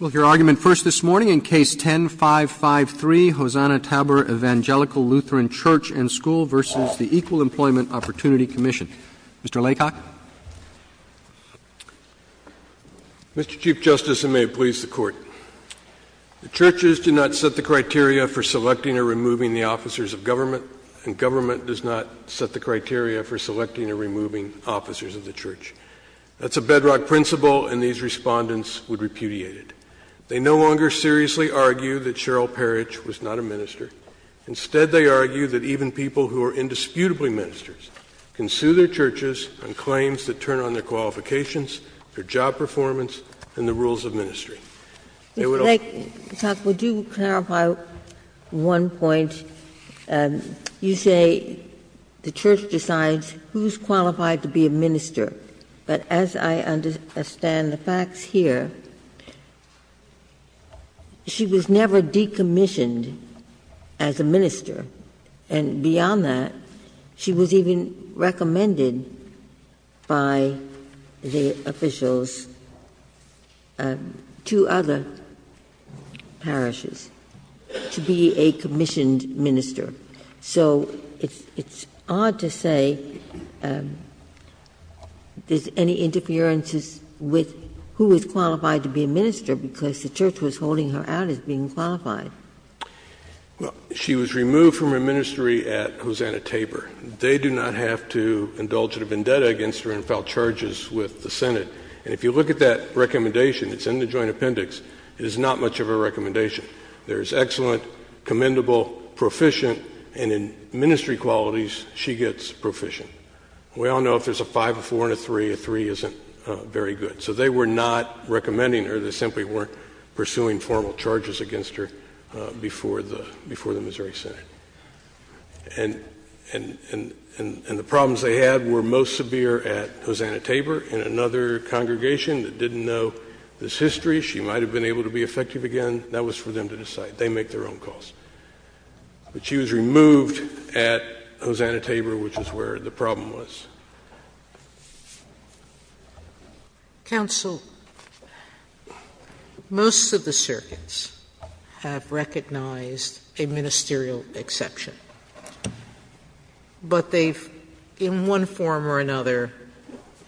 Well, your argument first this morning in Case 10-553, Hosanna-Tabor Evangelical Lutheran Church and School v. the Equal Employment Opportunity Commission. Mr. Laycock. Mr. Chief Justice, and may it please the Court. The churches do not set the criteria for selecting or removing the officers of government, and government does not set the criteria for selecting or removing officers of the church. That's a bedrock principle, and these respondents would repudiate it. They no longer seriously argue that Cheryl Parrish was not a minister. Instead, they argue that even people who are indisputably ministers can sue their churches on claims that turn on their qualifications, their job performance, and the rules of ministry. Mr. Laycock, would you clarify one point? You say the church decides who's qualified to be a minister, but as I understand the facts here, she was never decommissioned as a minister. And beyond that, she was even recommended by the officials to other parishes to be a commissioned minister. So it's odd to say there's any interferences with who is qualified to be a minister, because the church was holding her out as being qualified. Well, she was removed from her ministry at Hosanna Tabor. They do not have to indulge in a vendetta against her and file charges with the Senate. And if you look at that recommendation, it's in the joint appendix. It is not much of a recommendation. There is excellent, commendable, proficient, and in ministry qualities, she gets proficient. We all know if there's a five, a four, and a three, a three isn't very good. So they were not recommending her. They simply weren't pursuing formal charges against her before the Missouri Senate. And the problems they had were most severe at Hosanna Tabor. In another congregation that didn't know this history, she might have been able to be effective again. That was for them to decide. They make their own calls. But she was removed at Hosanna Tabor, which is where the problem was. Sotomayor, most of the circuits have recognized a ministerial exception. But they've, in one form or another,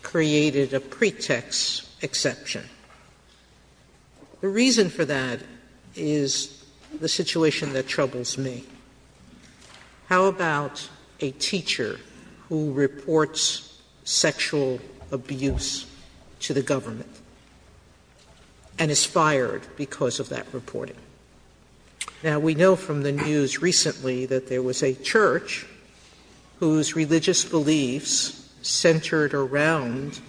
created a pretext exception. The reason for that is the situation that troubles me. How about a teacher who reports sexual abuse to the government and is fired because of that reporting? Now, we know from the news recently that there was a church whose religious beliefs centered around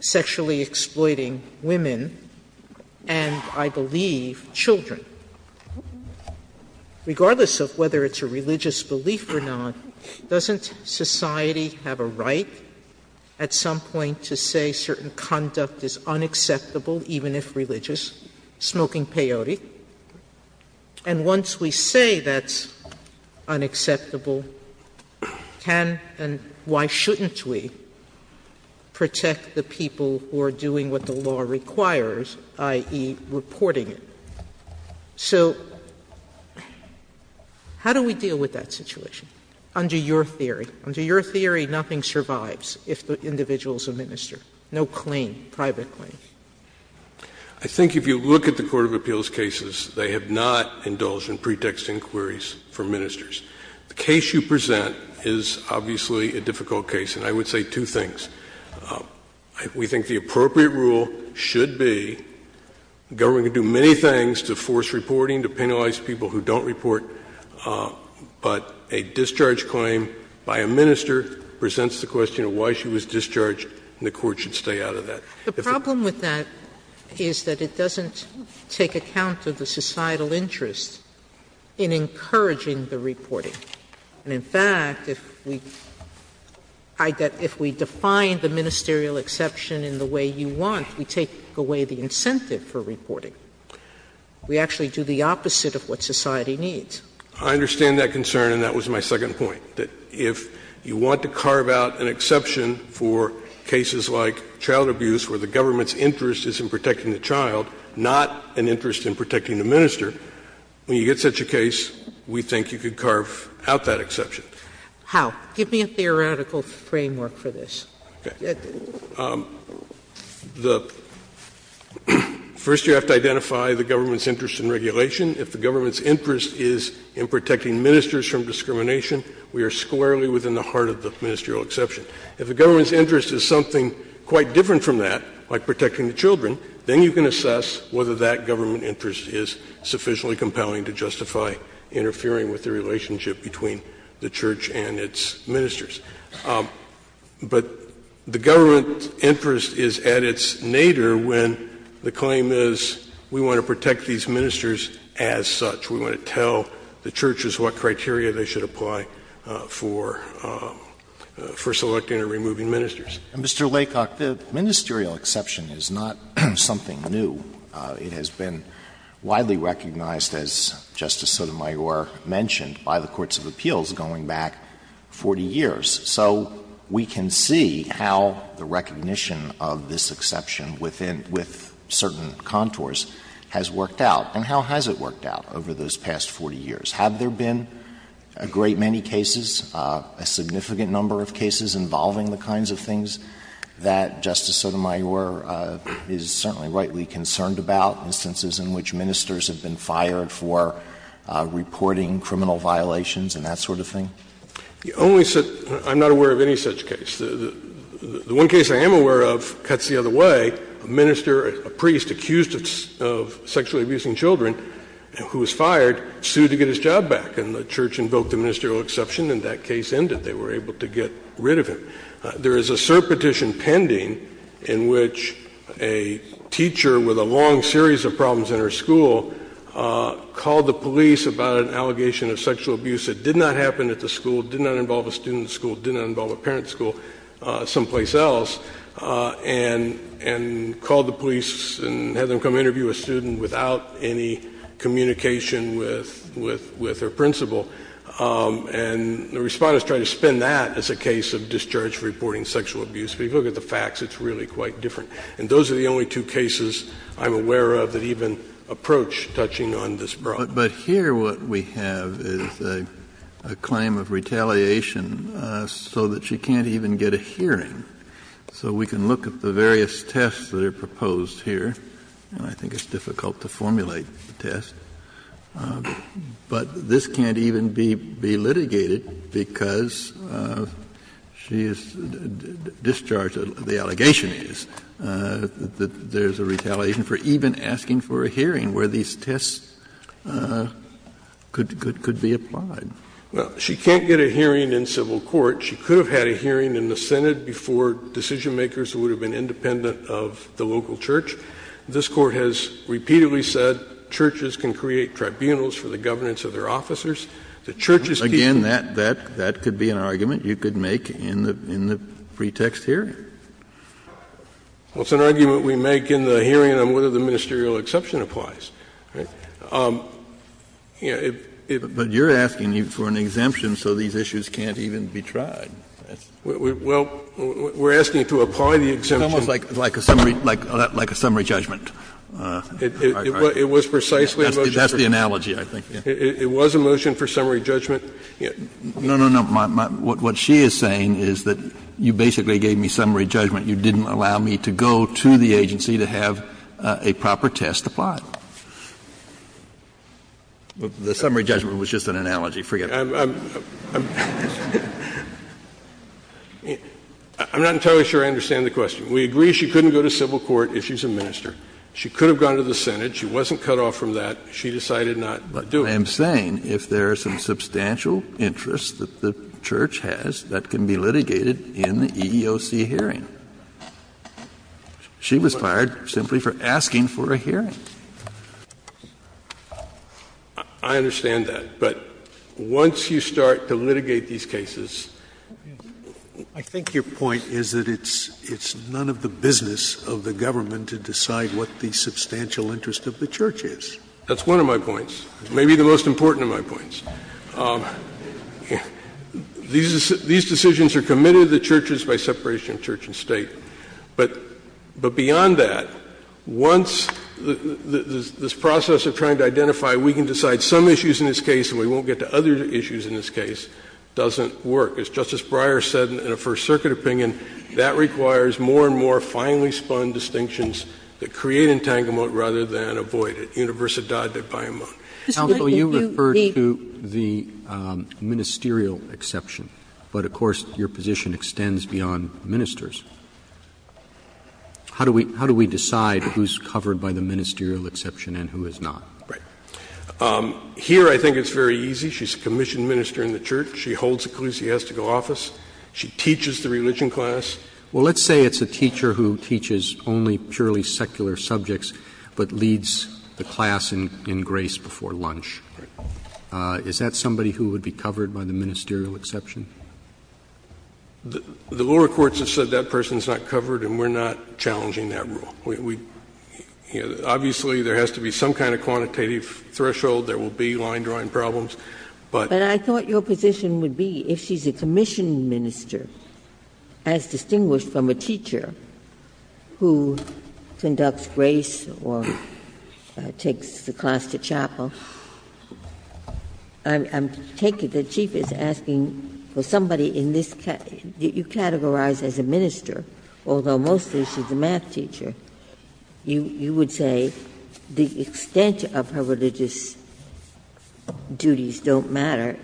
sexually exploiting women and, I believe, children. Regardless of whether it's a religious belief or not, doesn't society have a right at some point to say certain conduct is unacceptable, even if religious? Smoking peyote. And once we say that's unacceptable, can and why shouldn't we protect the people who are doing what the law requires, i.e., reporting it? So how do we deal with that situation under your theory? Under your theory, nothing survives if the individual is a minister. No claim, private claim. I think if you look at the court of appeals cases, they have not indulged in pretext inquiries from ministers. The case you present is obviously a difficult case. And I would say two things. We think the appropriate rule should be the government can do many things to force reporting, to penalize people who don't report. But a discharge claim by a minister presents the question of why she was discharged and the court should stay out of that. The problem with that is that it doesn't take account of the societal interest in encouraging the reporting. And, in fact, if we define the ministerial exception in the way you want, we take away the incentive for reporting. We actually do the opposite of what society needs. I understand that concern, and that was my second point, that if you want to carve out an exception for cases like child abuse where the government's interest is in protecting the child, not an interest in protecting the minister, when you get such a case, we think you could carve out that exception. How? Give me a theoretical framework for this. Okay. First, you have to identify the government's interest in regulation. If the government's interest is in protecting ministers from discrimination, we are squarely within the heart of the ministerial exception. If the government's interest is something quite different from that, like protecting the children, then you can assess whether that government interest is sufficiently compelling to justify interfering with the relationship between the church and its ministers. But the government's interest is at its nadir when the claim is we want to protect these ministers as such. We want to tell the churches what criteria they should apply for selecting or removing ministers. And, Mr. Laycock, the ministerial exception is not something new. It has been widely recognized, as Justice Sotomayor mentioned, by the courts of appeals going back 40 years. So we can see how the recognition of this exception within — with certain contours has worked out. And how has it worked out over those past 40 years? Have there been a great many cases, a significant number of cases involving the kinds of things that Justice Sotomayor is certainly rightly concerned about, instances in which ministers have been fired for reporting criminal violations and that sort of thing? The only — I'm not aware of any such case. The one case I am aware of cuts the other way. A minister, a priest accused of sexually abusing children who was fired sued to get his job back. And the church invoked the ministerial exception, and that case ended. They were able to get rid of him. There is a cert petition pending in which a teacher with a long series of problems in her school called the police about an allegation of sexual abuse that did not happen at the school, did not involve a student at the school, did not involve a and had them come interview a student without any communication with her principal. And the Respondents tried to spin that as a case of discharge reporting sexual abuse. But if you look at the facts, it's really quite different. And those are the only two cases I'm aware of that even approach touching on this problem. Kennedy But here what we have is a claim of retaliation so that you can't even get a hearing. So we can look at the various tests that are proposed here. And I think it's difficult to formulate the test. But this can't even be litigated because she is discharged, the allegation is, that there is a retaliation for even asking for a hearing where these tests could be applied. Scalia Well, she can't get a hearing in civil court. She could have had a hearing in the Senate before decision-makers would have been independent of the local church. This Court has repeatedly said churches can create tribunals for the governance of their officers. The church is key. Kennedy Again, that could be an argument you could make in the pretext here. Scalia Well, it's an argument we make in the hearing on whether the ministerial exception applies. Kennedy But you're asking for an exemption so these issues can't even be tried. Scalia Well, we're asking to apply the exemption. Kennedy It's almost like a summary judgment. Scalia It was precisely a motion for summary judgment. Kennedy That's the analogy, I think. Scalia It was a motion for summary judgment. Kennedy No, no, no. What she is saying is that you basically gave me summary judgment. You didn't allow me to go to the agency to have a proper test applied. The summary judgment was just an analogy. Forget it. Scalia I'm not entirely sure I understand the question. We agree she couldn't go to civil court if she's a minister. She could have gone to the Senate. She wasn't cut off from that. She decided not to do it. Kennedy But I am saying if there is some substantial interest that the church has, that can be litigated in the EEOC hearing. She was fired simply for asking for a hearing. I understand that. But once you start to litigate these cases. Sotomayor I think your point is that it's none of the business of the government to decide what the substantial interest of the church is. Kennedy That's one of my points, maybe the most important of my points. These decisions are committed to the churches by separation of church and State. But beyond that, once this process of trying to identify, we can decide some issues in this case and we won't get to other issues in this case, doesn't work. As Justice Breyer said in a First Circuit opinion, that requires more and more finely spun distinctions that create entanglement rather than avoid it. Universidad de Payamont. Roberts Counsel, you referred to the ministerial exception. But of course your position extends beyond ministers. How do we decide who's covered by the ministerial exception and who is not? Sotomayor Right. Here I think it's very easy. She's a commissioned minister in the church. She holds ecclesiastical office. She teaches the religion class. Roberts Counsel, well, let's say it's a teacher who teaches only purely secular subjects but leads the class in grace before lunch. Is that somebody who would be covered by the ministerial exception? The lower courts have said that person's not covered and we're not challenging that rule. We — obviously there has to be some kind of quantitative threshold. There will be line-drawing problems, but — Ginsburg But I thought your position would be if she's a commissioned minister, as distinguished from a teacher who conducts grace or takes the class to chapel, I'm taking — the chief is asking for somebody in this — you categorize as a minister, although mostly she's a math teacher. You would say the extent of her religious duties don't matter.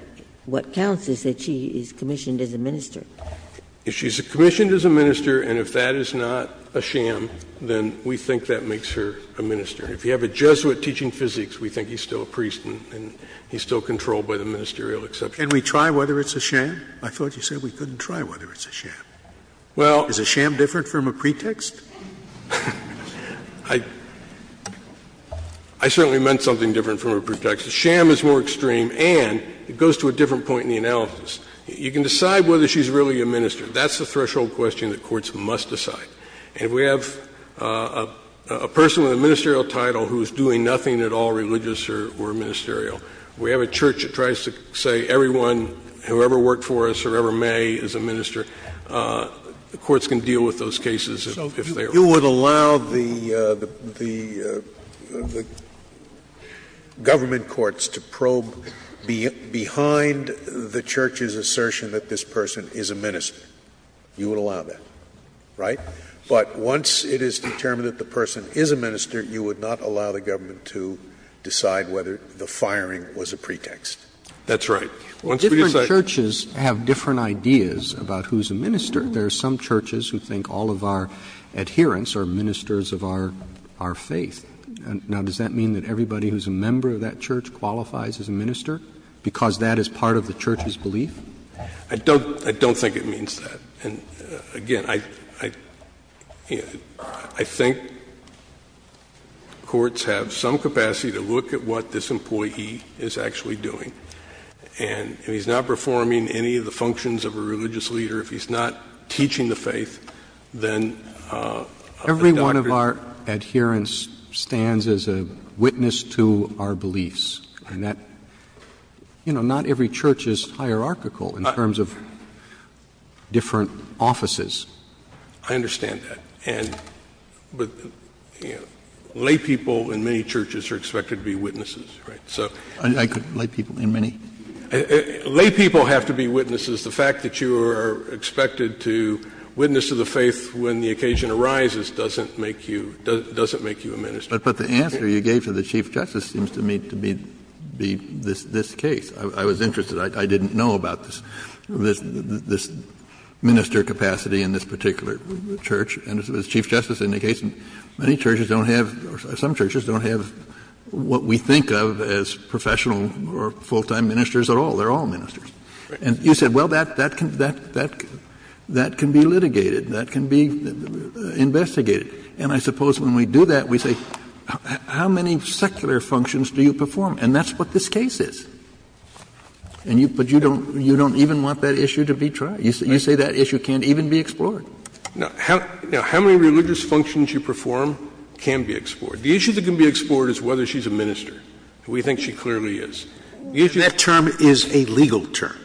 What counts is that she is commissioned as a minister. If she's commissioned as a minister and if that is not a sham, then we think that makes her a minister. If you have a Jesuit teaching physics, we think he's still a priest and he's still controlled by the ministerial exception. Scalia Can we try whether it's a sham? I thought you said we couldn't try whether it's a sham. Is a sham different from a pretext? Scalia I certainly meant something different from a pretext. A sham is more extreme and it goes to a different point in the analysis. You can decide whether she's really a minister. That's the threshold question that courts must decide. And if we have a person with a ministerial title who is doing nothing at all religious or ministerial, we have a church that tries to say everyone, whoever worked for us, whoever may, is a minister, the courts can deal with those cases if they are. Scalia So you would allow the government courts to probe behind the church's assertion that this person is a minister? You would allow that, right? But once it is determined that the person is a minister, you would not allow the government to decide whether the firing was a pretext. That's right. Once we decide Roberts Different churches have different ideas about who's a minister. There are some churches who think all of our adherents are ministers of our faith. Now, does that mean that everybody who's a member of that church qualifies as a minister because that is part of the church's belief? Scalia I don't think it means that. And, again, I think courts have some capacity to look at what this employee is actually doing, and if he's not performing any of the functions of a religious leader, if he's not teaching the faith, then Roberts Every one of our adherents stands as a witness to our beliefs, and that, you know, not every church is hierarchical in terms of different offices. Scalia I understand that. And laypeople in many churches are expected to be witnesses, right? So Roberts I couldn't say people in many? Scalia Laypeople have to be witnesses. The fact that you are expected to witness to the faith when the occasion arises doesn't make you a minister. Kennedy But the answer you gave to the Chief Justice seems to me to be this case. I was interested. I didn't know about this minister capacity in this particular church. And as the Chief Justice indicates, many churches don't have, or some churches don't have what we think of as professional or full-time ministers at all. They're all ministers. And you said, well, that can be litigated. That can be investigated. And I suppose when we do that, we say, how many secular functions do you perform? And that's what this case is. But you don't even want that issue to be tried. You say that issue can't even be explored. Scalia Now, how many religious functions you perform can be explored? The issue that can be explored is whether she's a minister. We think she clearly is. The issue Scalia That term is a legal term.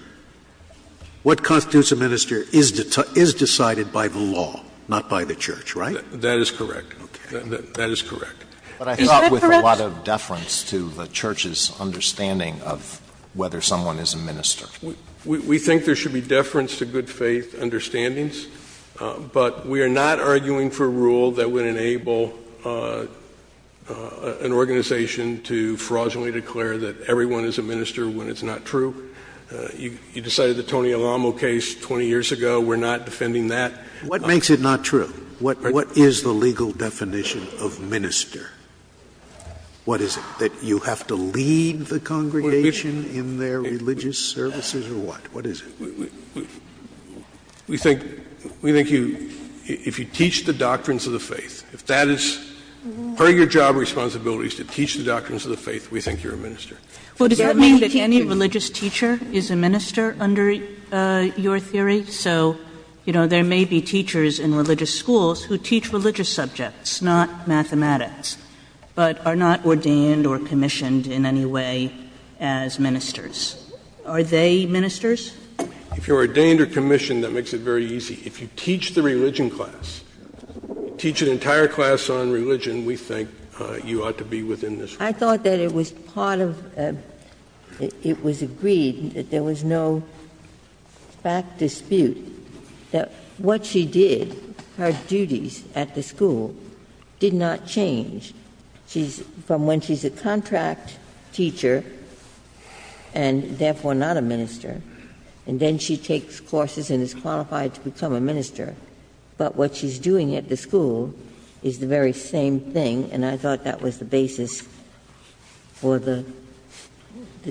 What constitutes a minister is decided by the law, not by the church, right? That is correct. That is correct. But I thought with a lot of deference to the church's understanding of whether someone is a minister. We think there should be deference to good faith understandings. But we are not arguing for rule that would enable an organization to fraudulently declare that everyone is a minister when it's not true. You decided the Tony Alamo case 20 years ago. We're not defending that. What makes it not true? What is the legal definition of minister? What is it? That you have to lead the congregation in their religious services or what? What is it? We think you, if you teach the doctrines of the faith, if that is part of your job responsibility is to teach the doctrines of the faith, we think you're a minister. Well, does that mean that any religious teacher is a minister under your theory? So, you know, there may be teachers in religious schools who teach religious subjects, not mathematics, but are not ordained or commissioned in any way as ministers. Are they ministers? If you're ordained or commissioned, that makes it very easy. If you teach the religion class, teach an entire class on religion, we think you ought to be within this. I thought that it was part of, it was agreed that there was no fact dispute that what she did, her duties at the school, did not change. She's, from when she's a contract teacher and therefore not a minister, and then she takes courses and is qualified to become a minister. But what she's doing at the school is the very same thing, and I thought that was the basis for the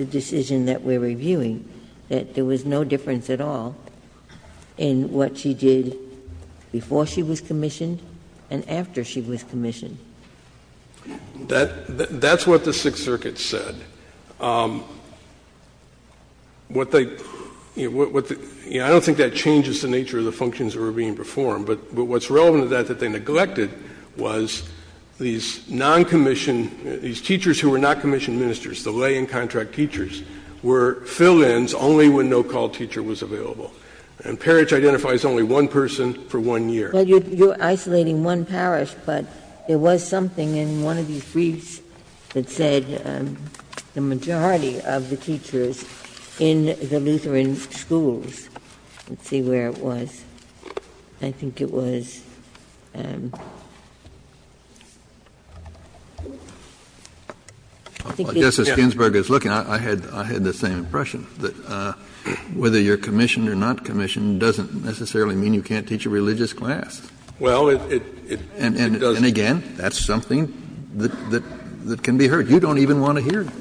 decision that we're reviewing, that there was no difference at all in what she did before she was commissioned and after she was commissioned. That's what the Sixth Circuit said. What they, you know, I don't think that changes the nature of the functions that were being performed. But what's relevant to that, that they neglected, was these non-commissioned these teachers who were not commissioned ministers, the lay and contract teachers, were fill-ins only when no-call teacher was available. And parish identifies only one person for one year. Ginsburg. Well, you're isolating one parish, but there was something in one of these briefs that said the majority of the teachers in the Lutheran schools. Let's see where it was. I think it was the Justice Ginsburg is looking, I had the same impression, that whether you're commissioned or not commissioned doesn't necessarily mean you can't teach a religious class. Well, it doesn't. And again, that's something that can be heard. You don't even want to hear it.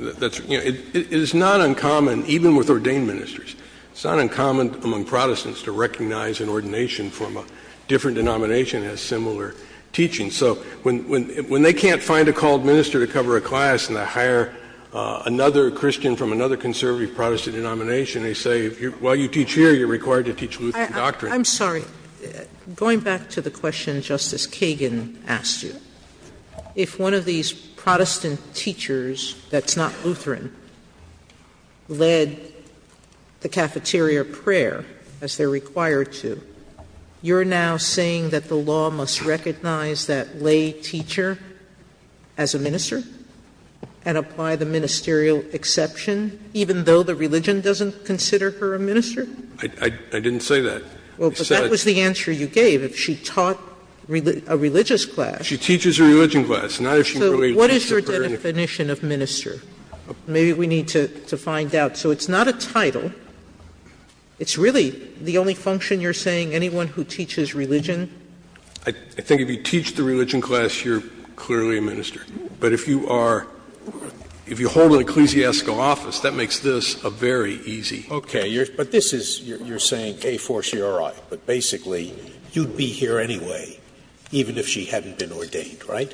It is not uncommon, even with ordained ministers, it's not uncommon among Protestants to recognize an ordination from a different denomination as similar teaching. So when they can't find a called minister to cover a class and to hire another Christian from another conservative Protestant denomination, they say, well, you teach here, you're required to teach Lutheran doctrine. I'm sorry. Going back to the question Justice Kagan asked you, if one of these Protestant teachers that's not Lutheran led the cafeteria prayer, as they're required to, you're now saying that the law must recognize that lay teacher as a minister and apply the ministerial exception, even though the religion doesn't consider her a minister? I didn't say that. Well, but that was the answer you gave. If she taught a religious class. She teaches a religion class, not if she really teaches a prayer. So what is your definition of minister? Maybe we need to find out. So it's not a title. It's really the only function you're saying anyone who teaches religion. I think if you teach the religion class, you're clearly a minister. But if you are — if you hold an ecclesiastical office, that makes this a very easy Okay. But this is — you're saying, A, forciori, but basically you'd be here anyway, even if she hadn't been ordained, right?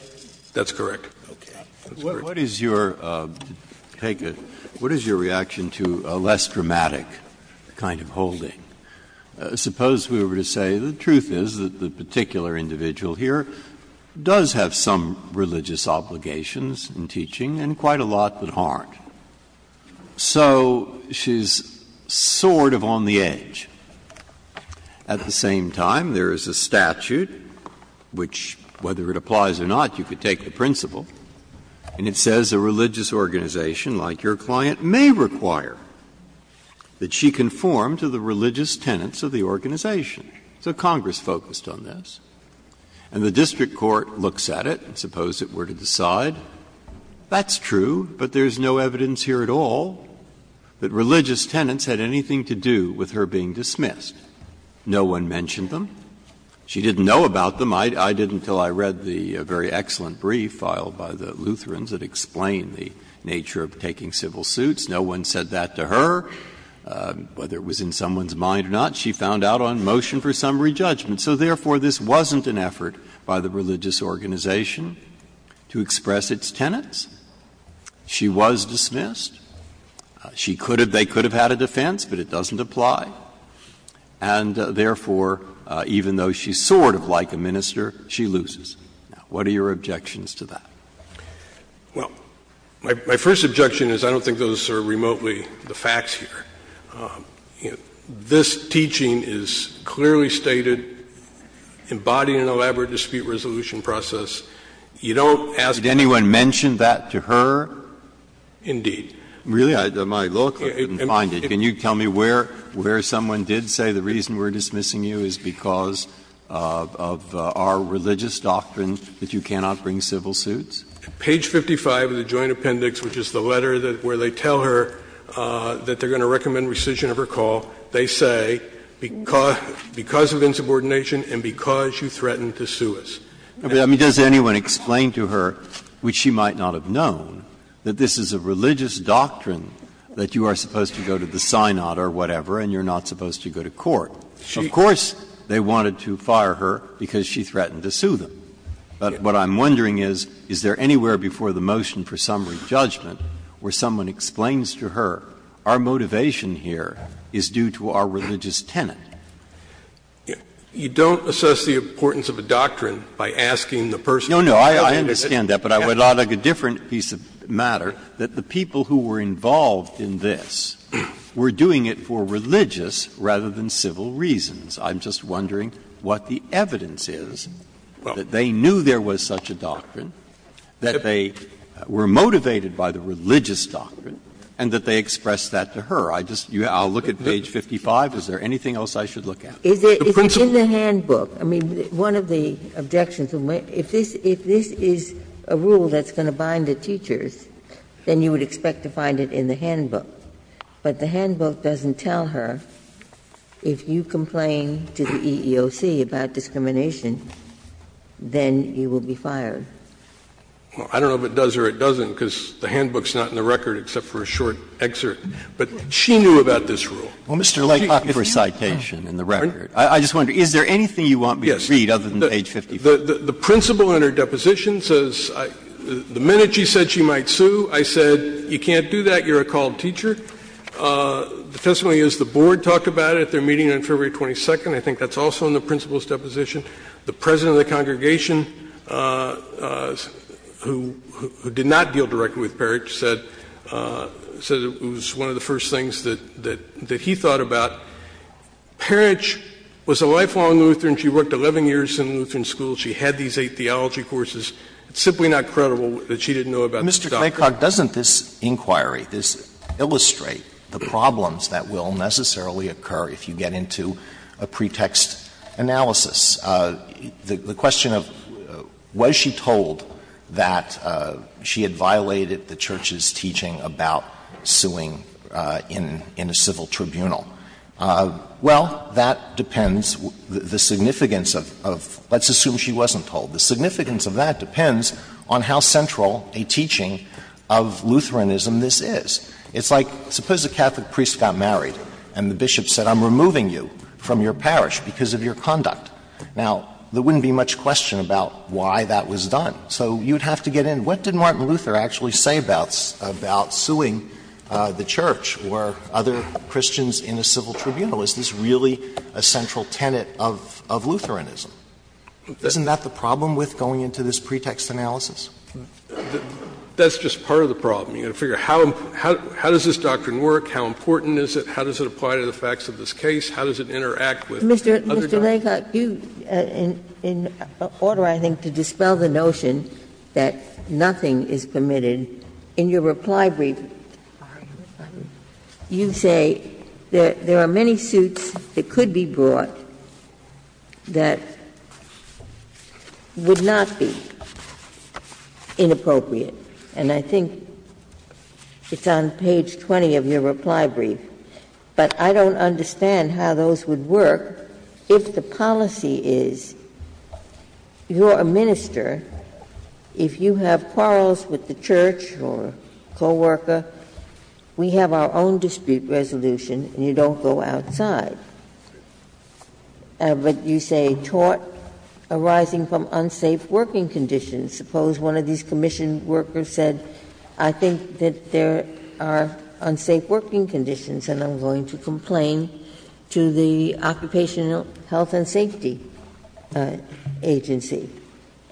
That's correct. Okay. What is your — take a — what is your reaction to a less dramatic kind of holding? Suppose we were to say the truth is that the particular individual here does have some religious obligations in teaching and quite a lot that aren't. So she's sort of on the edge. At the same time, there is a statute which, whether it applies or not, you could take the principle, and it says a religious organization like your client may require that she conform to the religious tenets of the organization. So Congress focused on this. And the district court looks at it, suppose it were to decide, that's true, but there's no evidence here at all that religious tenets had anything to do with her being dismissed. No one mentioned them. She didn't know about them. I did until I read the very excellent brief filed by the Lutherans that explained the nature of taking civil suits. No one said that to her, whether it was in someone's mind or not. She found out on motion for summary judgment. So therefore, this wasn't an effort by the religious organization to express its tenets. She was dismissed. She could have — they could have had a defense, but it doesn't apply. And therefore, even though she's sort of like a minister, she loses. What are your objections to that? Well, my first objection is I don't think those are remotely the facts here. This teaching is clearly stated, embodying an elaborate dispute resolution process. You don't ask me to do that. Did anyone mention that to her? Indeed. Really? On my look, I couldn't find it. Can you tell me where someone did say the reason we're dismissing you is because of our religious doctrine that you cannot bring civil suits? Page 55 of the Joint Appendix, which is the letter where they tell her that they're going to recommend rescission of her call, they say because of insubordination and because you threatened to sue us. I mean, does anyone explain to her, which she might not have known, that this is a religious doctrine, that you are supposed to go to the synod or whatever and you're not supposed to go to court? Of course, they wanted to fire her because she threatened to sue them. But what I'm wondering is, is there anywhere before the motion for summary judgment where someone explains to her our motivation here is due to our religious tenet? You don't assess the importance of a doctrine by asking the person who invented it. No, no. I understand that, but I would like a different piece of matter, that the people who were involved in this were doing it for religious rather than civil reasons. I'm just wondering what the evidence is that they knew there was such a doctrine, that they were motivated by the religious doctrine, and that they expressed that to her. I just you know, I'll look at page 55. Is there anything else I should look at? The principle. Ginsburg. It's in the handbook. I mean, one of the objections, if this is a rule that's going to bind the teachers, then you would expect to find it in the handbook. But the handbook doesn't tell her if you complain to the EEOC about discrimination, then you will be fired. Well, I don't know if it does or it doesn't, because the handbook's not in the record except for a short excerpt. But she knew about this rule. Well, Mr. Lake, I'll ask for a citation in the record. I just wonder, is there anything you want me to read other than page 55? The principle in her deposition says, the minute she said she might sue, I said, you can't do that, you're a called teacher. The testimony is the board talked about it at their meeting on February 22nd. I think that's also in the principle's deposition. The president of the congregation, who did not deal directly with Parrish, said that it was one of the first things that he thought about. Parrish was a lifelong Lutheran. She worked 11 years in Lutheran school. She had these eight theology courses. It's simply not credible that she didn't know about this doctrine. Mr. Claycock, doesn't this inquiry, this illustrate the problems that will necessarily occur if you get into a pretext analysis? The question of, was she told that she had violated the church's teaching about suing in a civil tribunal? Well, that depends. The significance of — let's assume she wasn't told. The significance of that depends on how central a teaching of Lutheranism this is. It's like, suppose a Catholic priest got married and the bishop said, I'm removing you from your parish because of your conduct. Now, there wouldn't be much question about why that was done. So you would have to get in. What did Martin Luther actually say about suing the church or other Christians in a civil tribunal? Is this really a central tenet of Lutheranism? Isn't that the problem with going into this pretext analysis? That's just part of the problem. You've got to figure out how does this doctrine work, how important is it, how does it apply to the facts of this case, how does it interact with other doctrines. Mr. Claycock, you — in order, I think, to dispel the notion that nothing is permitted, in your reply brief you say that there are many suits that could be brought that would not be inappropriate. And I think it's on page 20 of your reply brief. But I don't understand how those would work if the policy is you're a minister, if you have quarrels with the church or co-worker, we have our own dispute resolution and you don't go outside. But you say, taught arising from unsafe working conditions. Suppose one of these commission workers said, I think that there are unsafe working conditions and I'm going to complain to the Occupational Health and Safety Agency.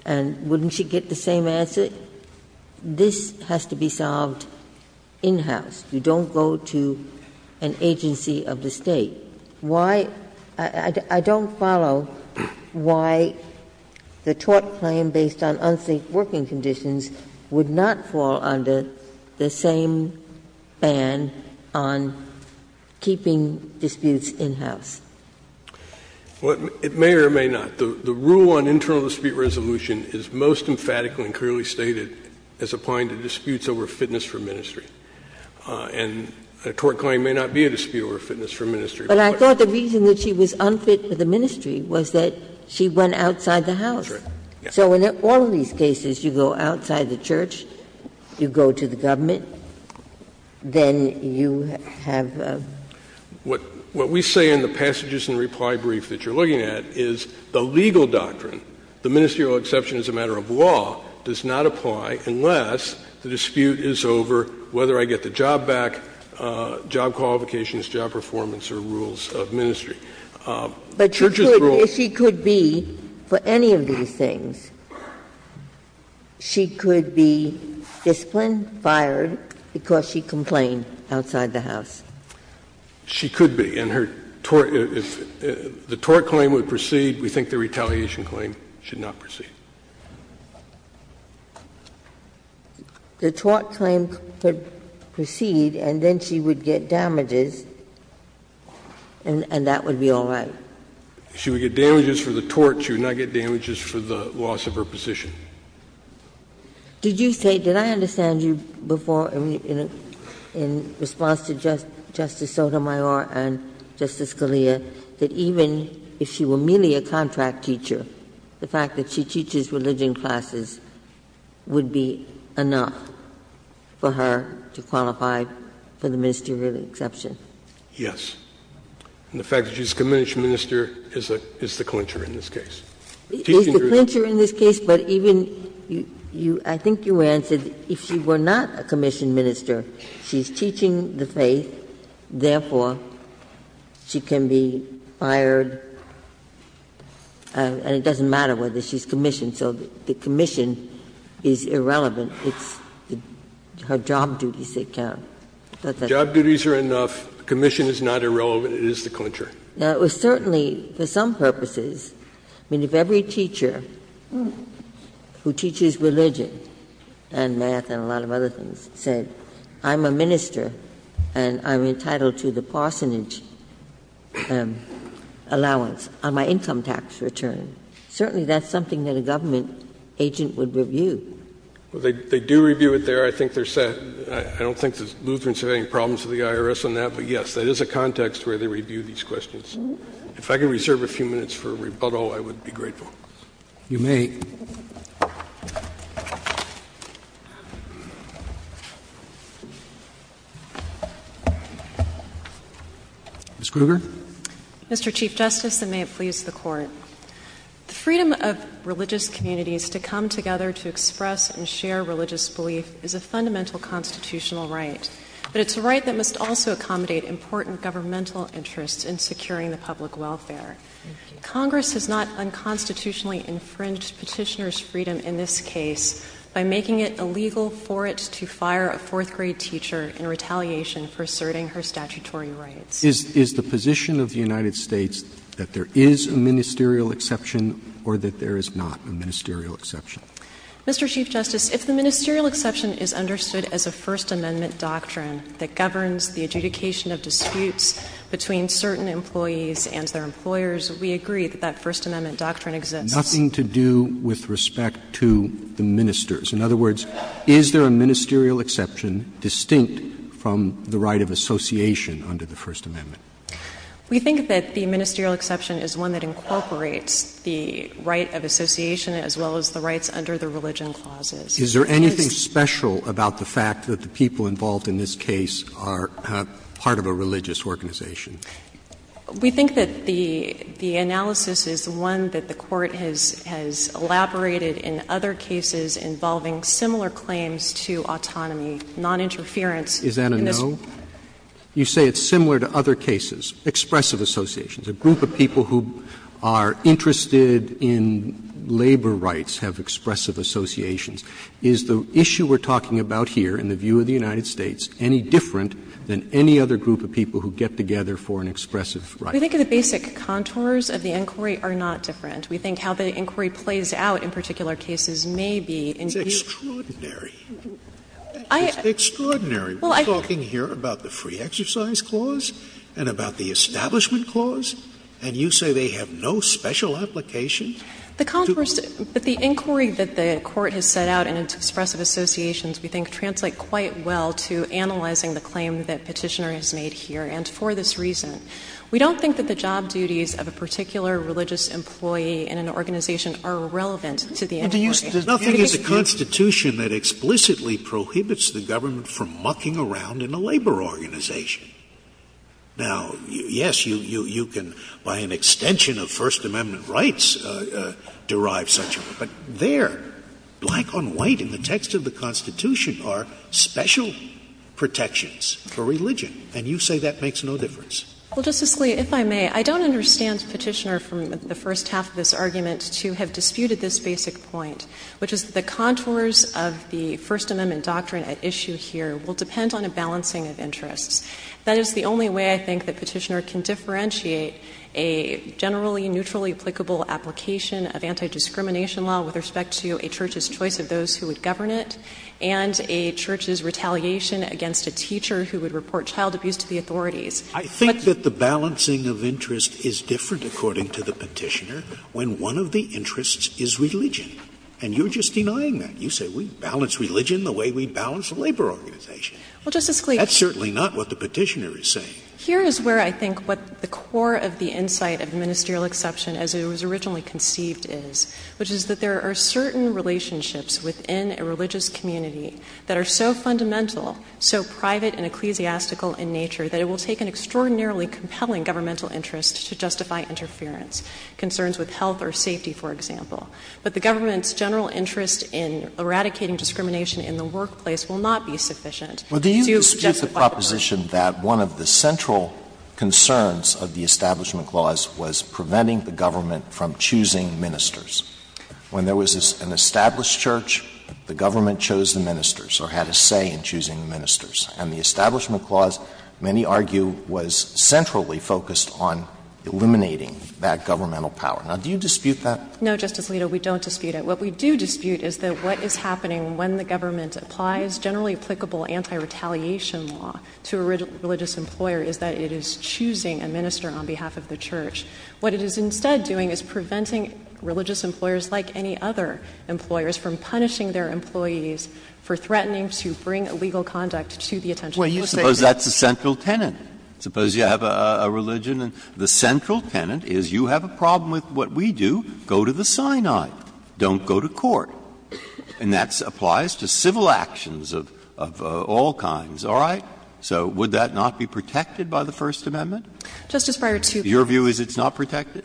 And wouldn't she get the same answer? This has to be solved in-house. You don't go to an agency of the State. Why — I don't follow why the tort claim based on unsafe working conditions would not fall under the same ban on keeping disputes in-house. It may or may not. The rule on internal dispute resolution is most emphatically and clearly stated as applying to disputes over fitness for ministry. And a tort claim may not be a dispute over fitness for ministry. But I thought the reason that she was unfit for the ministry was that she went outside the house. That's right. So in all of these cases, you go outside the church, you go to the government, then you have a — What we say in the passages and reply brief that you're looking at is the legal doctrine, the ministerial exception as a matter of law, does not apply unless the dispute is over, whether I get the job back, job qualifications, job performance, or rules of ministry. But the church's rules — But she could be, for any of these things, she could be disciplined, fired, because she complained outside the house. She could be. And her tort — if the tort claim would proceed, we think the retaliation claim should not proceed. The tort claim could proceed, and then she would get damages, and that would be all right. If she would get damages for the tort, she would not get damages for the loss of her position. Did you say — did I understand you before, in response to Justice Sotomayor and Justice Scalia, that even if she were merely a contract teacher, the fact that she teaches religion classes would be enough for her to qualify for the ministerial exception? Yes. And the fact that she's a commissioned minister is the clincher in this case. Is the clincher in this case, but even — I think you answered, if she were not a commissioned minister, she's teaching the faith, therefore, she can be fired, and it doesn't matter whether she's commissioned. So the commission is irrelevant. It's her job duties that count. Job duties are enough. Commission is not irrelevant. It is the clincher. Now, it was certainly, for some purposes, I mean, if every teacher who teaches religion and math and a lot of other things said, I'm a minister and I'm entitled to the parsonage allowance on my income tax return. Certainly, that's something that a government agent would review. Well, they do review it there. I think they're set. I don't think the Lutherans have any problems with the IRS on that, but, yes, that is a context where they review these questions. If I could reserve a few minutes for rebuttal, I would be grateful. You may. Ms. Kruger. Mr. Chief Justice, and may it please the Court. The freedom of religious communities to come together to express and share religious belief is a fundamental constitutional right, but it's a right that must also accommodate important governmental interests in securing the public welfare. Congress has not unconstitutionally infringed Petitioner's freedom in this case by making it illegal for it to fire a fourth-grade teacher in retaliation for asserting her statutory rights. Is the position of the United States that there is a ministerial exception or that there is not a ministerial exception? Mr. Chief Justice, if the ministerial exception is understood as a First Amendment doctrine that governs the adjudication of disputes between certain employees and their employers, we agree that that First Amendment doctrine exists. Nothing to do with respect to the ministers. In other words, is there a ministerial exception distinct from the right of association under the First Amendment? We think that the ministerial exception is one that incorporates the right of association as well as the rights under the religion clauses. Is there anything special about the fact that the people involved in this case are part of a religious organization? We think that the analysis is one that the Court has elaborated in other cases involving similar claims to autonomy, noninterference. Is that a no? You say it's similar to other cases. Expressive associations. A group of people who are interested in labor rights have expressive associations. Is the issue we're talking about here in the view of the United States any different than any other group of people who get together for an expressive right? We think the basic contours of the inquiry are not different. We think how the inquiry plays out in particular cases may be. It's extraordinary. It's extraordinary. We're talking here about the Free Exercise Clause and about the Establishment Clause, and you say they have no special application? But the inquiry that the Court has set out in its expressive associations, we think, translate quite well to analyzing the claim that Petitioner has made here. And for this reason, we don't think that the job duties of a particular religious employee in an organization are relevant to the inquiry. Nothing in the Constitution that explicitly prohibits the government from mucking around in a labor organization. Now, yes, you can, by an extension of First Amendment rights, derive such a rule. But there, black on white in the text of the Constitution are special protections for religion, and you say that makes no difference. Well, Justice Scalia, if I may, I don't understand Petitioner from the first half of this argument to have disputed this basic point, which is that the contours of the First Amendment doctrine at issue here will depend on a balancing of interests. That is the only way I think that Petitioner can differentiate a generally neutrally applicable application of anti-discrimination law with respect to a church's choice of those who would govern it and a church's retaliation against a teacher who would report child abuse to the authorities. Scalia, I think that the balancing of interests is different, according to the Petitioner, when one of the interests is religion, and you're just denying that. You say we balance religion the way we balance a labor organization. Well, Justice Scalia. That's certainly not what the Petitioner is saying. Here is where I think what the core of the insight of ministerial exception, as it was originally conceived, is, which is that there are certain relationships within a religious community that are so fundamental, so private and ecclesiastical in nature that it will take an extraordinarily compelling governmental interest to justify interference, concerns with health or safety, for example. But the government's general interest in eradicating discrimination in the workplace will not be sufficient to justify interference. Well, do you dispute the proposition that one of the central concerns of the Establishment Clause was preventing the government from choosing ministers? When there was an established church, the government chose the ministers or had a say in choosing the ministers. And the Establishment Clause, many argue, was centrally focused on eliminating that governmental power. Now, do you dispute that? No, Justice Alito, we don't dispute it. What we do dispute is that what is happening when the government applies generally applicable anti-retaliation law to a religious employer is that it is choosing a minister on behalf of the church. What it is instead doing is preventing religious employers, like any other employers, from punishing their employees for threatening to bring illegal conduct to the attention of the church. Well, you suppose that's the central tenet. Suppose you have a religion and the central tenet is you have a problem with what we do, go to the Sinai, don't go to court. And that applies to civil actions of all kinds. All right? So would that not be protected by the First Amendment? Justice Breyer, two points. Your view is it's not protected?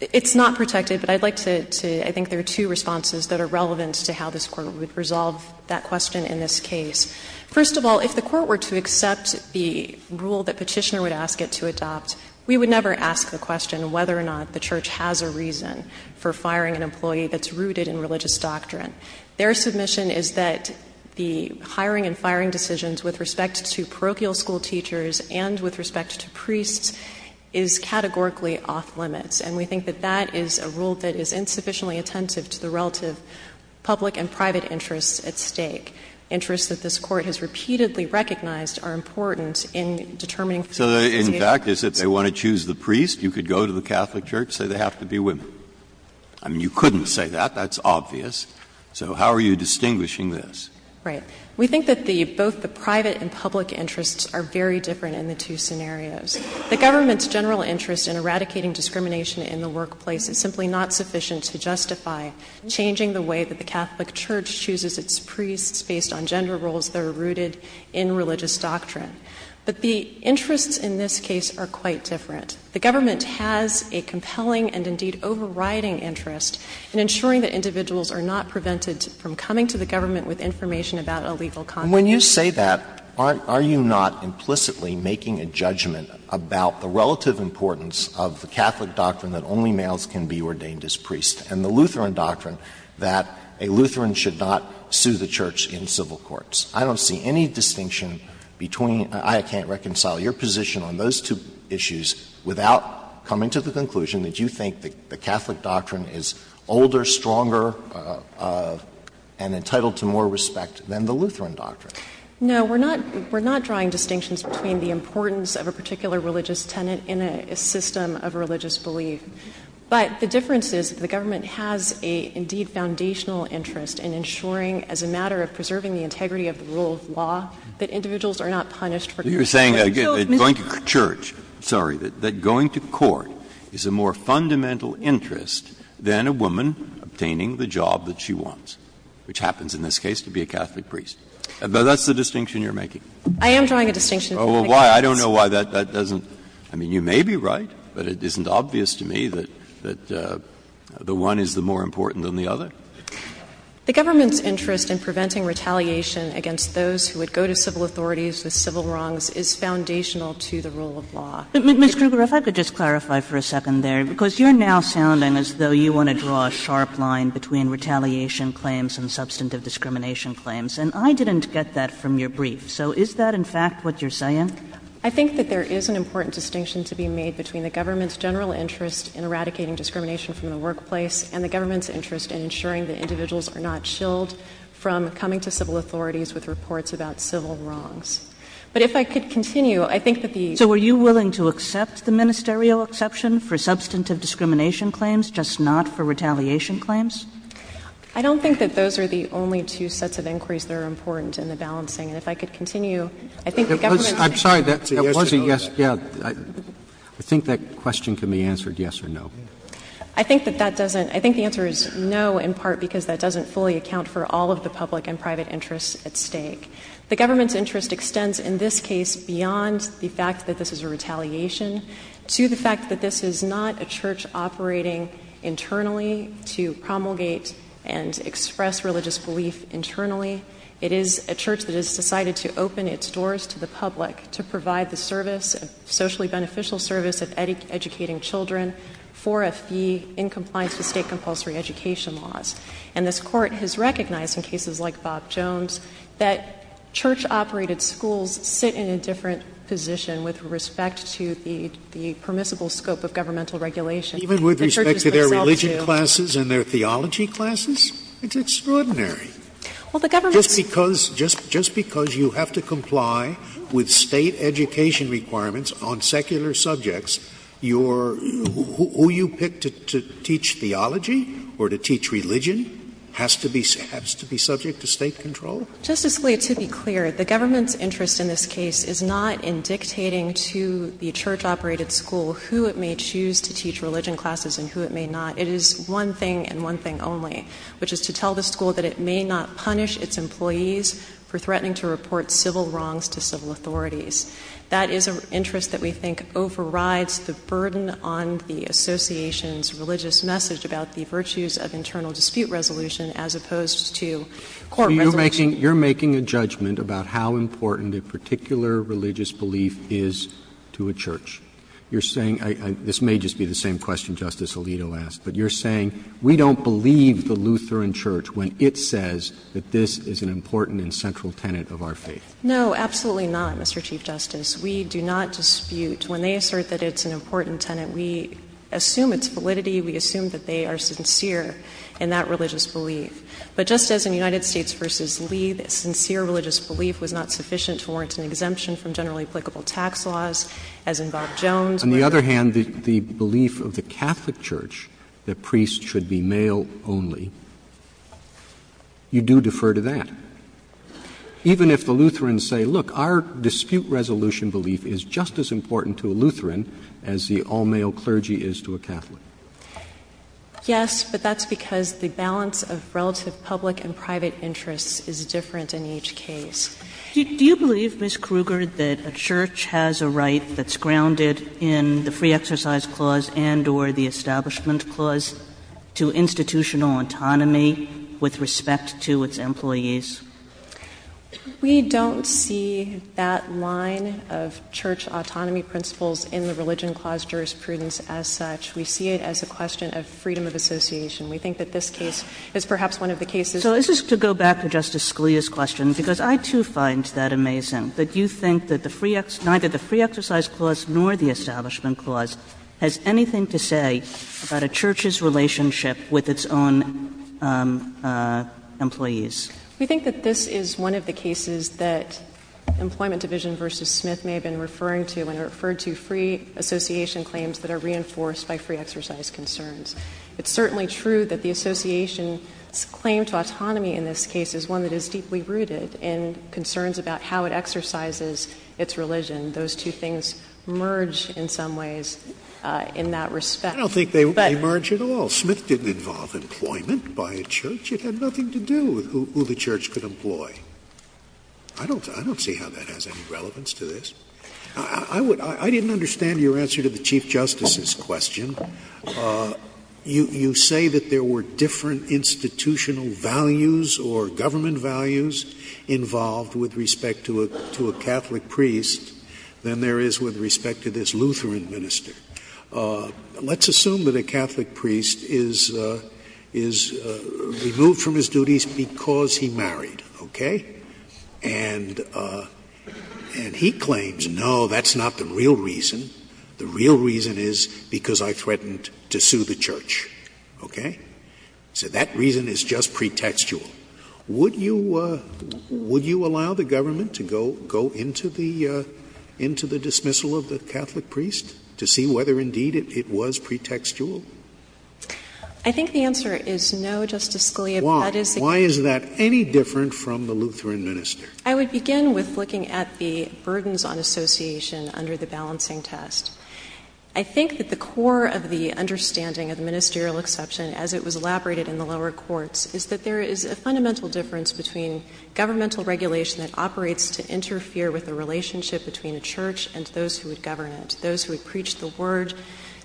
It's not protected, but I'd like to, I think there are two responses that are relevant to how this Court would resolve that question in this case. First of all, if the Court were to accept the rule that Petitioner would ask it to adopt, we would never ask the question whether or not the church has a reason for firing an employee that's rooted in religious doctrine. Their submission is that the hiring and firing decisions with respect to parochial school teachers and with respect to priests is categorically off-limits. And we think that that is a rule that is insufficiently attentive to the relative public and private interests at stake. Interests that this Court has repeatedly recognized are important in determining the association of priests. So in fact, if they want to choose the priest, you could go to the Catholic church and say they have to be women. I mean, you couldn't say that. That's obvious. So how are you distinguishing this? Right. We think that both the private and public interests are very different in the two scenarios. The government's general interest in eradicating discrimination in the workplace is simply not sufficient to justify changing the way that the Catholic church chooses its priests based on gender roles that are rooted in religious doctrine. But the interests in this case are quite different. The government has a compelling and indeed overriding interest in ensuring that a legal context And when you say that, are you not implicitly making a judgment about the relative importance of the Catholic doctrine that only males can be ordained as priests and the Lutheran doctrine that a Lutheran should not sue the church in civil courts? I don't see any distinction between — I can't reconcile your position on those two issues without coming to the conclusion that you think the Catholic doctrine is older, stronger, and entitled to more respect than the Lutheran doctrine. No. We're not — we're not drawing distinctions between the importance of a particular religious tenet in a system of religious belief. But the difference is that the government has an indeed foundational interest in ensuring as a matter of preserving the integrity of the rule of law that individuals are not punished for — You're saying that going to church — Sorry. That going to court is a more fundamental interest than a woman obtaining the job that she wants, which happens in this case to be a Catholic priest. That's the distinction you're making? I am drawing a distinction. Oh, well, why? I don't know why that doesn't — I mean, you may be right, but it isn't obvious to me that the one is the more important than the other. The government's interest in preventing retaliation against those who would go to civil authorities with civil wrongs is foundational to the rule of law. Ms. Kruger, if I could just clarify for a second there, because you're now sounding as though you want to draw a sharp line between retaliation claims and substantive discrimination claims. And I didn't get that from your brief. So is that, in fact, what you're saying? I think that there is an important distinction to be made between the government's general interest in eradicating discrimination from the workplace and the government's interest in ensuring that individuals are not chilled from coming to civil authorities with reports about civil wrongs. But if I could continue, I think that the — So are you willing to accept the ministerial exception for substantive discrimination claims, just not for retaliation claims? I don't think that those are the only two sets of inquiries that are important in the balancing. And if I could continue, I think the government's — I'm sorry. That wasn't yes. I think that question can be answered yes or no. I think that that doesn't — I think the answer is no in part because that doesn't fully account for all of the public and private interests at stake. The government's interest extends in this case beyond the fact that this is a retaliation to the fact that this is not a church operating internally to promulgate and express religious belief internally. It is a church that has decided to open its doors to the public to provide the service, socially beneficial service, of educating children for a fee in compliance with state compulsory education laws. And this Court has recognized in cases like Bob Jones that church-operated schools sit in a different position with respect to the permissible scope of governmental regulation. Even with respect to their religion classes and their theology classes? It's extraordinary. Well, the government's — Just because — just because you have to comply with state education requirements on secular subjects, your — who you pick to teach theology or to teach religion has to be — has to be subject to state control? Justice Scalia, to be clear, the government's interest in this case is not in dictating to the church-operated school who it may choose to teach religion classes and who it may not. It is one thing and one thing only, which is to tell the school that it may not punish its employees for threatening to report civil wrongs to civil authorities. That is an interest that we think overrides the burden on the association's religious message about the virtues of internal dispute resolution as opposed to court resolution. You're making — you're making a judgment about how important a particular religious belief is to a church. You're saying — this may just be the same question Justice Alito asked, but you're saying we don't believe the Lutheran Church when it says that this is an important and central tenet of our faith. No, absolutely not, Mr. Chief Justice. We do not dispute. When they assert that it's an important tenet, we assume its validity. We assume that they are sincere in that religious belief. But just as in United States v. Lee, the sincere religious belief was not sufficient to warrant an exemption from generally applicable tax laws, as in Bob Jones. On the other hand, the belief of the Catholic Church that priests should be male only, you do defer to that. Even if the Lutherans say, look, our dispute resolution belief is just as important to a Lutheran as the all-male clergy is to a Catholic. Yes, but that's because the balance of relative public and private interests is different in each case. Do you believe, Ms. Kruger, that a church has a right that's grounded in the free exercise clause and or the establishment clause to institutional autonomy with respect to its employees? We don't see that line of church autonomy principles in the religion clause jurisprudence as such. We see it as a question of freedom of association. We think that this case is perhaps one of the cases— So this is to go back to Justice Scalia's question, because I, too, find that amazing that you think that the free — neither the free exercise clause nor the establishment clause has anything to say about a church's relationship with its own employees. We think that this is one of the cases that Employment Division v. Smith may have been referring to when it referred to free association claims that are reinforced by free exercise concerns. It's certainly true that the association's claim to autonomy in this case is one that is deeply rooted in concerns about how it exercises its religion. Those two things merge in some ways in that respect. I don't think they merge at all. Smith didn't involve employment by a church. It had nothing to do with who the church could employ. I don't see how that has any relevance to this. I didn't understand your answer to the Chief Justice's question. You say that there were different institutional values or government values involved with respect to a Catholic priest than there is with respect to this Lutheran minister. Let's assume that a Catholic priest is removed from his duties because he married. Okay? And he claims, no, that's not the real reason. The real reason is because I threatened to sue the church. Okay? So that reason is just pretextual. Would you allow the government to go into the dismissal of the Catholic priest to see whether, indeed, it was pretextual? I think the answer is no, Justice Scalia. Why? Why is that any different from the Lutheran minister? I would begin with looking at the burdens on association under the balancing test. I think that the core of the understanding of the ministerial exception, as it was elaborated in the lower courts, is that there is a fundamental difference between governmental regulation that operates to interfere with the relationship between a church and those who would govern it, those who would preach the word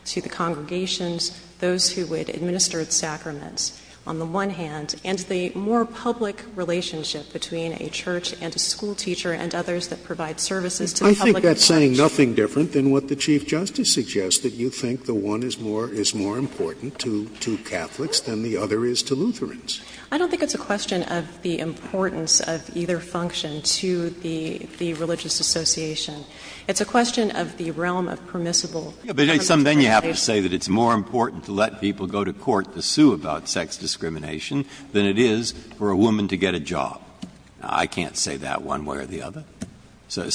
to the congregations, those who would administer its sacraments, on the one hand, and the more public relationship between a church and a schoolteacher and others that provide services to the public and church. I think that's saying nothing different than what the Chief Justice suggests, that you think the one is more important to Catholics than the other is to Lutherans. I don't think it's a question of the importance of either function to the religious association. It's a question of the realm of permissible. Breyer. Some then you have to say that it's more important to let people go to court to sue about sex discrimination than it is for a woman to get a job. I can't say that one way or the other. So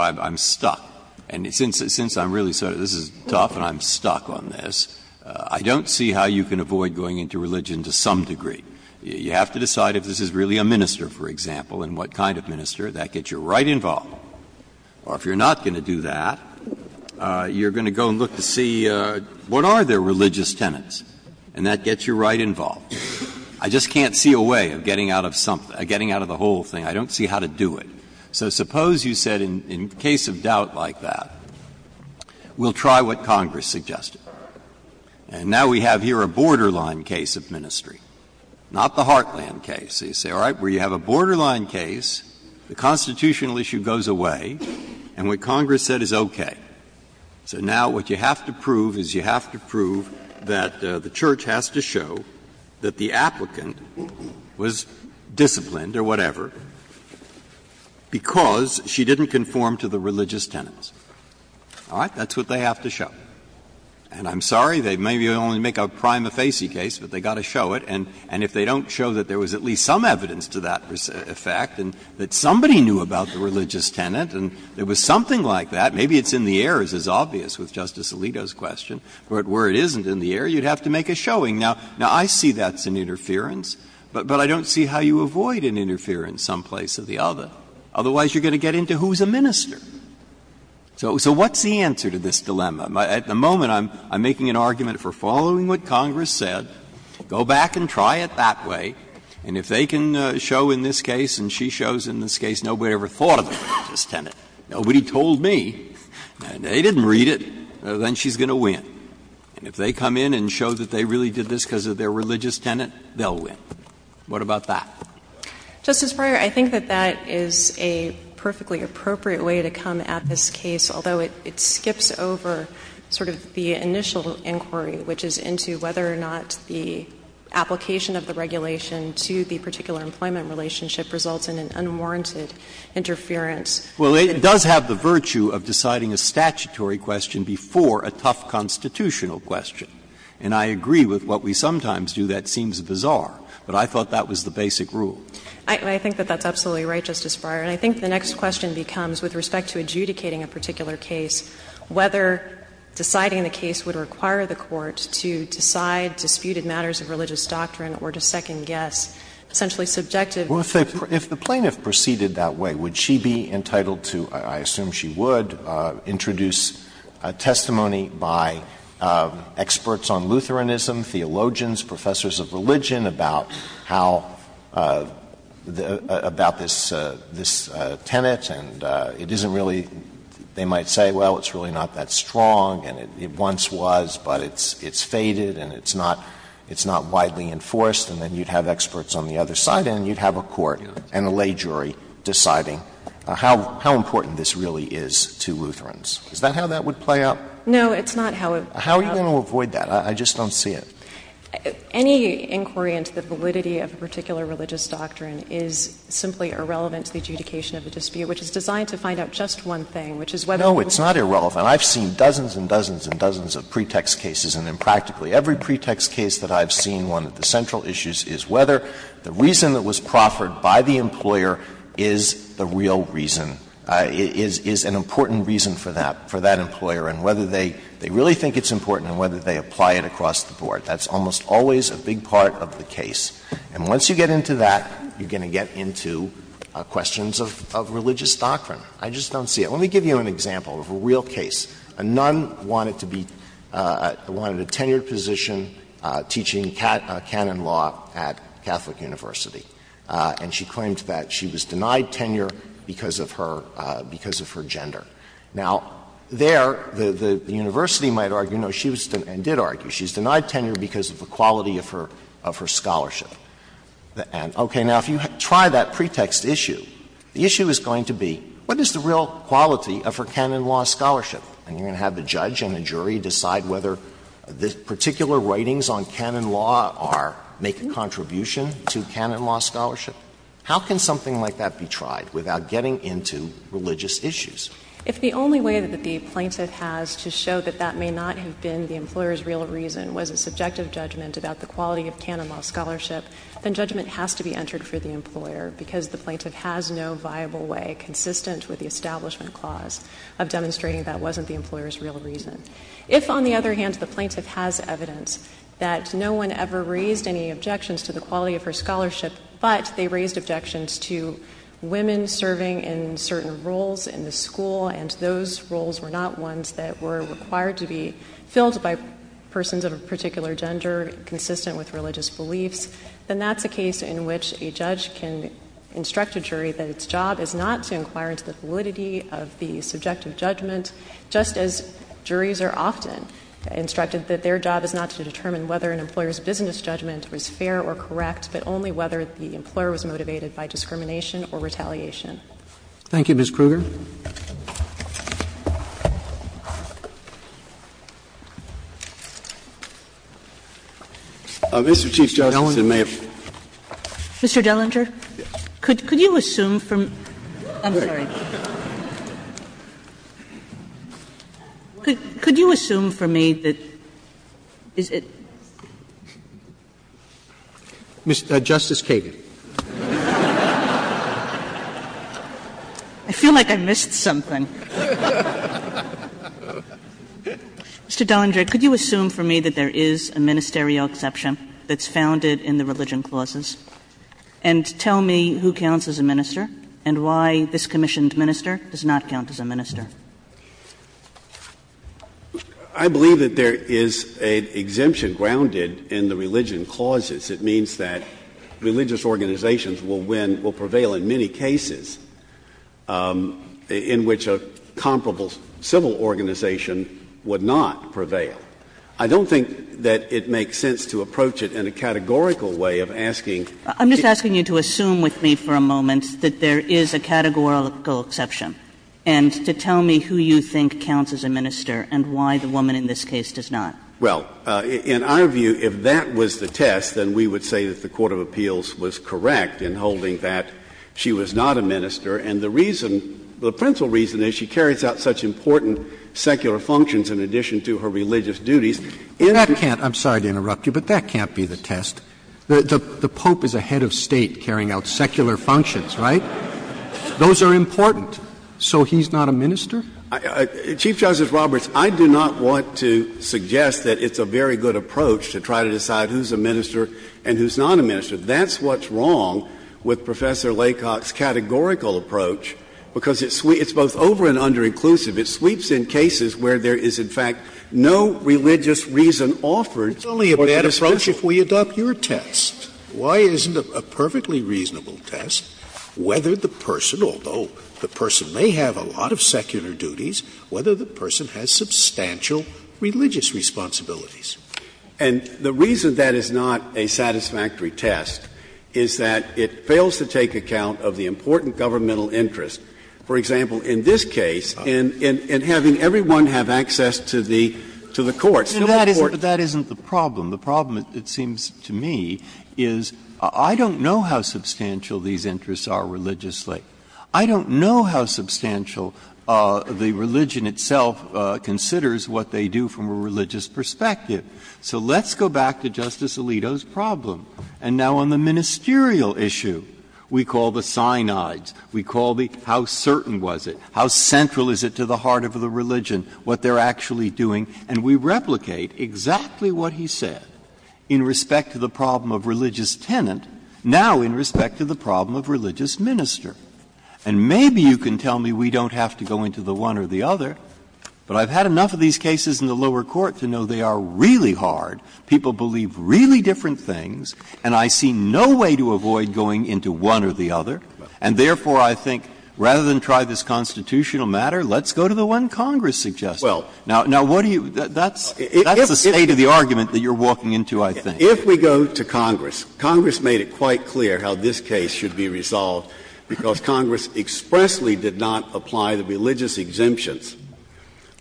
I'm stuck. And since I'm really sort of this is tough and I'm stuck on this, I don't see how you can avoid going into religion to some degree. You have to decide if this is really a minister, for example, and what kind of minister. That gets you right involved. Or if you're not going to do that, you're going to go and look to see what are their religious tenets, and that gets you right involved. I just can't see a way of getting out of something, getting out of the whole thing. I don't see how to do it. So suppose you said in case of doubt like that, we'll try what Congress suggested. And now we have here a borderline case of ministry, not the Heartland case. So you say, all right, well, you have a borderline case. The constitutional issue goes away, and what Congress said is okay. So now what you have to prove is you have to prove that the Church has to show that the applicant was disciplined or whatever because she didn't conform to the religious tenets. All right? That's what they have to show. And I'm sorry, they maybe only make a prima facie case, but they've got to show it. And if they don't show that there was at least some evidence to that effect and that somebody knew about the religious tenet and there was something like that, maybe it's in the air, as is obvious with Justice Alito's question, but where it isn't in the air, you'd have to make a showing. Now, I see that's an interference, but I don't see how you avoid an interference someplace or the other. Otherwise, you're going to get into who's a minister. So what's the answer to this dilemma? At the moment, I'm making an argument for following what Congress said. Go back and try it that way, and if they can show in this case and she shows in this case nobody ever thought of the religious tenet, nobody told me, and they didn't read it, then she's going to win. And if they come in and show that they really did this because of their religious tenet, they'll win. What about that? Justice Breyer, I think that that is a perfectly appropriate way to come at this case, although it skips over sort of the initial inquiry, which is into whether or not the application of the regulation to the particular employment relationship results in an unwarranted interference. Well, it does have the virtue of deciding a statutory question before a tough constitutional question. And I agree with what we sometimes do. That seems bizarre. But I thought that was the basic rule. I think that that's absolutely right, Justice Breyer. And I think the next question becomes, with respect to adjudicating a particular case, whether deciding the case would require the Court to decide disputed matters of religious doctrine or to second-guess, essentially subjective. Well, if the plaintiff proceeded that way, would she be entitled to, I assume she would, introduce testimony by experts on Lutheranism, theologians, professors of religion about how the — about this tenet, and it isn't really, they might say, well, it's really not that strong and it once was, but it's faded and it's not widely enforced, and then you'd have experts on the other side, and you'd have a court and a lay jury deciding how important this really is to Lutherans. Is that how that would play out? No, it's not how it would play out. How are you going to avoid that? I just don't see it. Any inquiry into the validity of a particular religious doctrine is simply irrelevant to the adjudication of a dispute, which is designed to find out just one thing, which is whether it was proffered by the employer. No, it's not irrelevant. I've seen dozens and dozens and dozens of pretext cases, and in practically every pretext case that I've seen, one of the central issues is whether the reason that was proffered by the employer is the real reason, is an important reason for that, for that employer, and whether they really think it's important and whether they apply it across the board. That's almost always a big part of the case. And once you get into that, you're going to get into questions of religious doctrine. I just don't see it. Let me give you an example of a real case. A nun wanted to be — wanted a tenured position teaching canon law at Catholic University, and she claimed that she was denied tenure because of her — because of her gender. Now, there, the university might argue, no, she was — and did argue, she was denied tenure because of the quality of her — of her scholarship. And, okay, now, if you try that pretext issue, the issue is going to be, what is the real quality of her canon law scholarship? And you're going to have the judge and the jury decide whether the particular writings on canon law are — make a contribution to canon law scholarship. How can something like that be tried without getting into religious issues? If the only way that the plaintiff has to show that that may not have been the employer's real reason was a subjective judgment about the quality of canon law scholarship, then judgment has to be entered for the employer, because the plaintiff has no viable way, consistent with the Establishment Clause, of demonstrating that wasn't the employer's real reason. If, on the other hand, the plaintiff has evidence that no one ever raised any objections to the quality of her scholarship, but they raised objections to women serving in certain roles in the school, and those roles were not ones that were required to be filled by persons of a particular gender, consistent with religious beliefs, then that's a case in which a judge can instruct a jury that its job is not to inquire into the validity of the subjective judgment, just as juries are often instructed that their job is not to determine whether an employer's business judgment was fair or correct, but only whether the employer was motivated by discrimination or retaliation. Thank you, Ms. Kruger. Mr. Chief Justice, it may have been. Mr. Dellinger, could you assume from me that, I'm sorry. Could you assume from me that, is it? Justice Kagan. I feel like I missed something. Mr. Dellinger, could you assume from me that there is a ministerial exception that's founded in the religion clauses, and tell me who counts as a minister and why this commissioned minister does not count as a minister? I believe that there is an exemption grounded in the religion clauses. It means that religious organizations will win, will prevail in many cases, in which a comparable civil organization would not prevail. I don't think that it makes sense to approach it in a categorical way of asking to. I'm just asking you to assume with me for a moment that there is a categorical exception and to tell me who you think counts as a minister and why the woman in this case does not. Well, in our view, if that was the test, then we would say that the court of appeals was correct in holding that she was not a minister. And the reason, the principal reason is she carries out such important secular functions in addition to her religious duties. That can't, I'm sorry to interrupt you, but that can't be the test. The Pope is a head of State carrying out secular functions, right? Those are important. So he's not a minister? Chief Justice Roberts, I do not want to suggest that it's a very good approach to try to decide who's a minister and who's not a minister. That's what's wrong with Professor Laycock's categorical approach, because it's both over- and under-inclusive. It sweeps in cases where there is, in fact, no religious reason offered for the dismissal. Scalia, it's only a bad approach if we adopt your test. Why isn't a perfectly reasonable test whether the person, although the person may have a lot of secular duties, whether the person has substantial religious responsibilities? And the reason that is not a satisfactory test is that it fails to take account of the important governmental interest. For example, in this case, in having everyone have access to the courts, to the courts. But that isn't the problem. The problem, it seems to me, is I don't know how substantial these interests are religiously. I don't know how substantial the religion itself considers what they do from a religious perspective. So let's go back to Justice Alito's problem. And now on the ministerial issue, we call the Sinaids, we call the how certain was it, how central is it to the heart of the religion, what they're actually doing, and we replicate exactly what he said in respect to the problem of religious tenant, now in respect to the problem of religious minister. And maybe you can tell me we don't have to go into the one or the other, but I've had enough of these cases in the lower court to know they are really hard, people believe really different things, and I see no way to avoid going into one or the other. And therefore, I think rather than try this constitutional matter, let's go to the one Congress suggests. Now, what do you do? That's the state of the argument that you're walking into, I think. If we go to Congress, Congress made it quite clear how this case should be resolved, because Congress expressly did not apply the religious exemptions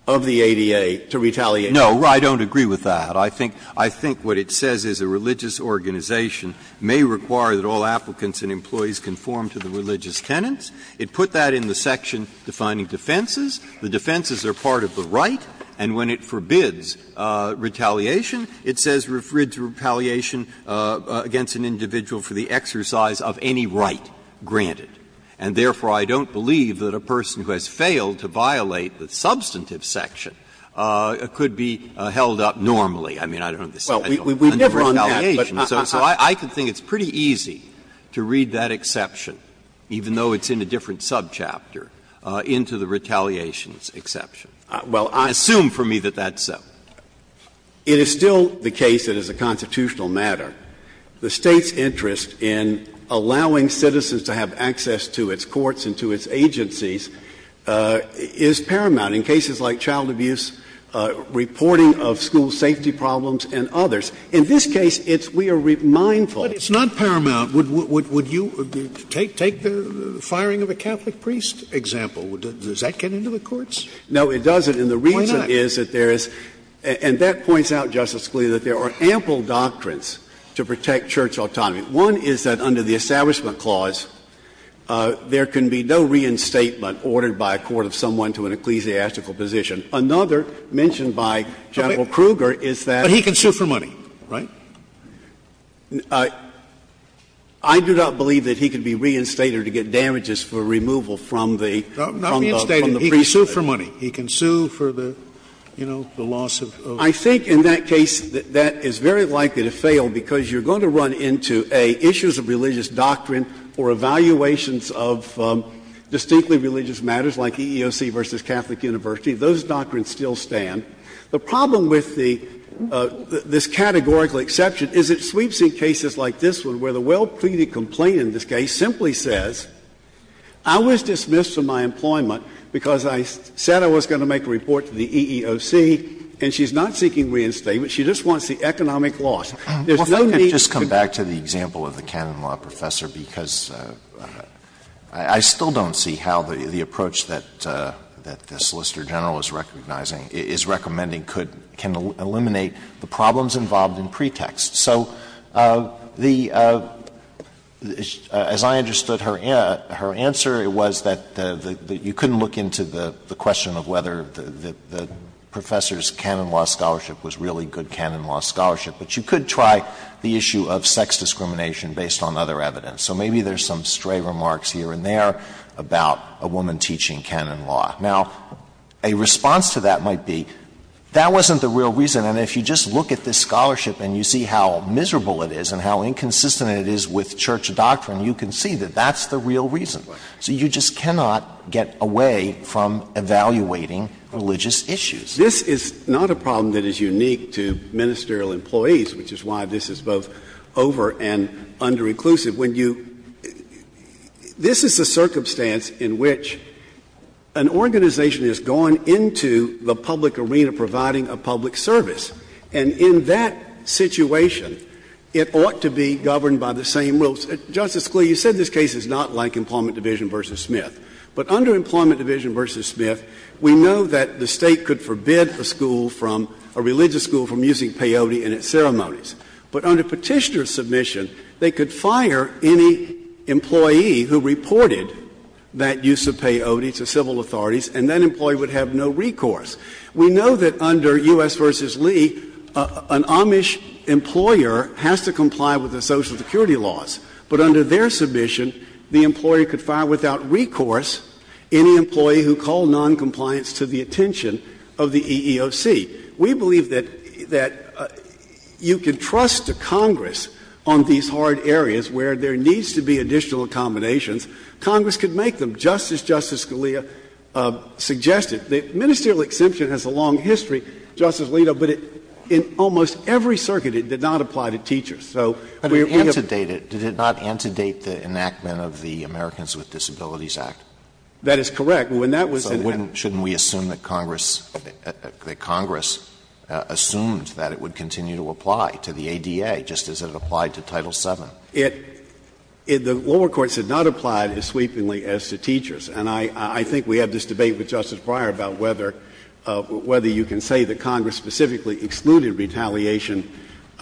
of the ADA to retaliation. Breyer. I don't agree with that. I think what it says is a religious organization may require that all applicants and employees conform to the religious tenants. It put that in the section defining defenses. The defenses are part of the right, and when it forbids retaliation, it says retaliation against an individual for the exercise of any right granted. And therefore, I don't believe that a person who has failed to violate the substantive section could be held up normally. I mean, I don't understand. I don't understand retaliation. So I can think it's pretty easy to read that exception, even though it's in a different subchapter, into the retaliations exception. Assume for me that that's so. It is still the case that as a constitutional matter, the State's interest in allowing citizens to have access to its courts and to its agencies is paramount in cases like child abuse, reporting of school safety problems, and others. In this case, it's we are mindful. Scalia. But it's not paramount. Would you take the firing of a Catholic priest example? Does that get into the courts? No, it doesn't. And the reason is that there is, and that points out, Justice Scalia, that there are ample doctrines to protect church autonomy. One is that under the Establishment Clause, there can be no reinstatement ordered by a court of someone to an ecclesiastical position. Another, mentioned by General Kruger, is that he can sue for money, right? I do not believe that he can be reinstated to get damages for removal from the priest. He can sue for money. He can sue for the, you know, the loss of ownership. I think in that case, that is very likely to fail because you are going to run into a issues of religious doctrine or evaluations of distinctly religious matters like EEOC versus Catholic University. Those doctrines still stand. The problem with the this categorical exception is it sweeps in cases like this one, where the well-pleaded complaint in this case simply says, I was dismissed from my Santa was going to make a report to the EEOC, and she's not seeking reinstatement. She just wants the economic loss. There's no need to go to the other side of the line. Alito, I think I would just come back to the example of the canon law professor, because I still don't see how the approach that the Solicitor General is recognizing is recommending could eliminate the problems involved in pretext. So the as I understood her answer, it was that you couldn't look into the pretext of the question of whether the professor's canon law scholarship was really good canon law scholarship, but you could try the issue of sex discrimination based on other evidence. So maybe there's some stray remarks here and there about a woman teaching canon law. Now, a response to that might be, that wasn't the real reason. And if you just look at this scholarship and you see how miserable it is and how inconsistent it is with church doctrine, you can see that that's the real reason. So you just cannot get away from evaluating religious issues. This is not a problem that is unique to ministerial employees, which is why this is both over and under-inclusive. When you — this is a circumstance in which an organization has gone into the public arena providing a public service, and in that situation, it ought to be governed by the same rules. Justice Scalia, you said this case is not like Employment Division v. Smith. But under Employment Division v. Smith, we know that the State could forbid a school from — a religious school from using peyote in its ceremonies. But under Petitioner's submission, they could fire any employee who reported that use of peyote to civil authorities, and that employee would have no recourse. We know that under U.S. v. Lee, an Amish employer has to comply with the Social Security laws, but under their submission, the employer could fire without recourse any employee who called noncompliance to the attention of the EEOC. We believe that you can trust Congress on these hard areas where there needs to be additional accommodations. Congress could make them, just as Justice Scalia suggested. The ministerial exemption has a long history, Justice Alito, but in almost every circuit, it did not apply to teachers. So we have to think about it. Alito, did it not antedate the enactment of the Americans with Disabilities Act? That is correct. When that was in effect. So shouldn't we assume that Congress — that Congress assumed that it would continue to apply to the ADA, just as it applied to Title VII? It — the lower courts had not applied as sweepingly as to teachers. And I think we had this debate with Justice Breyer about whether you can say that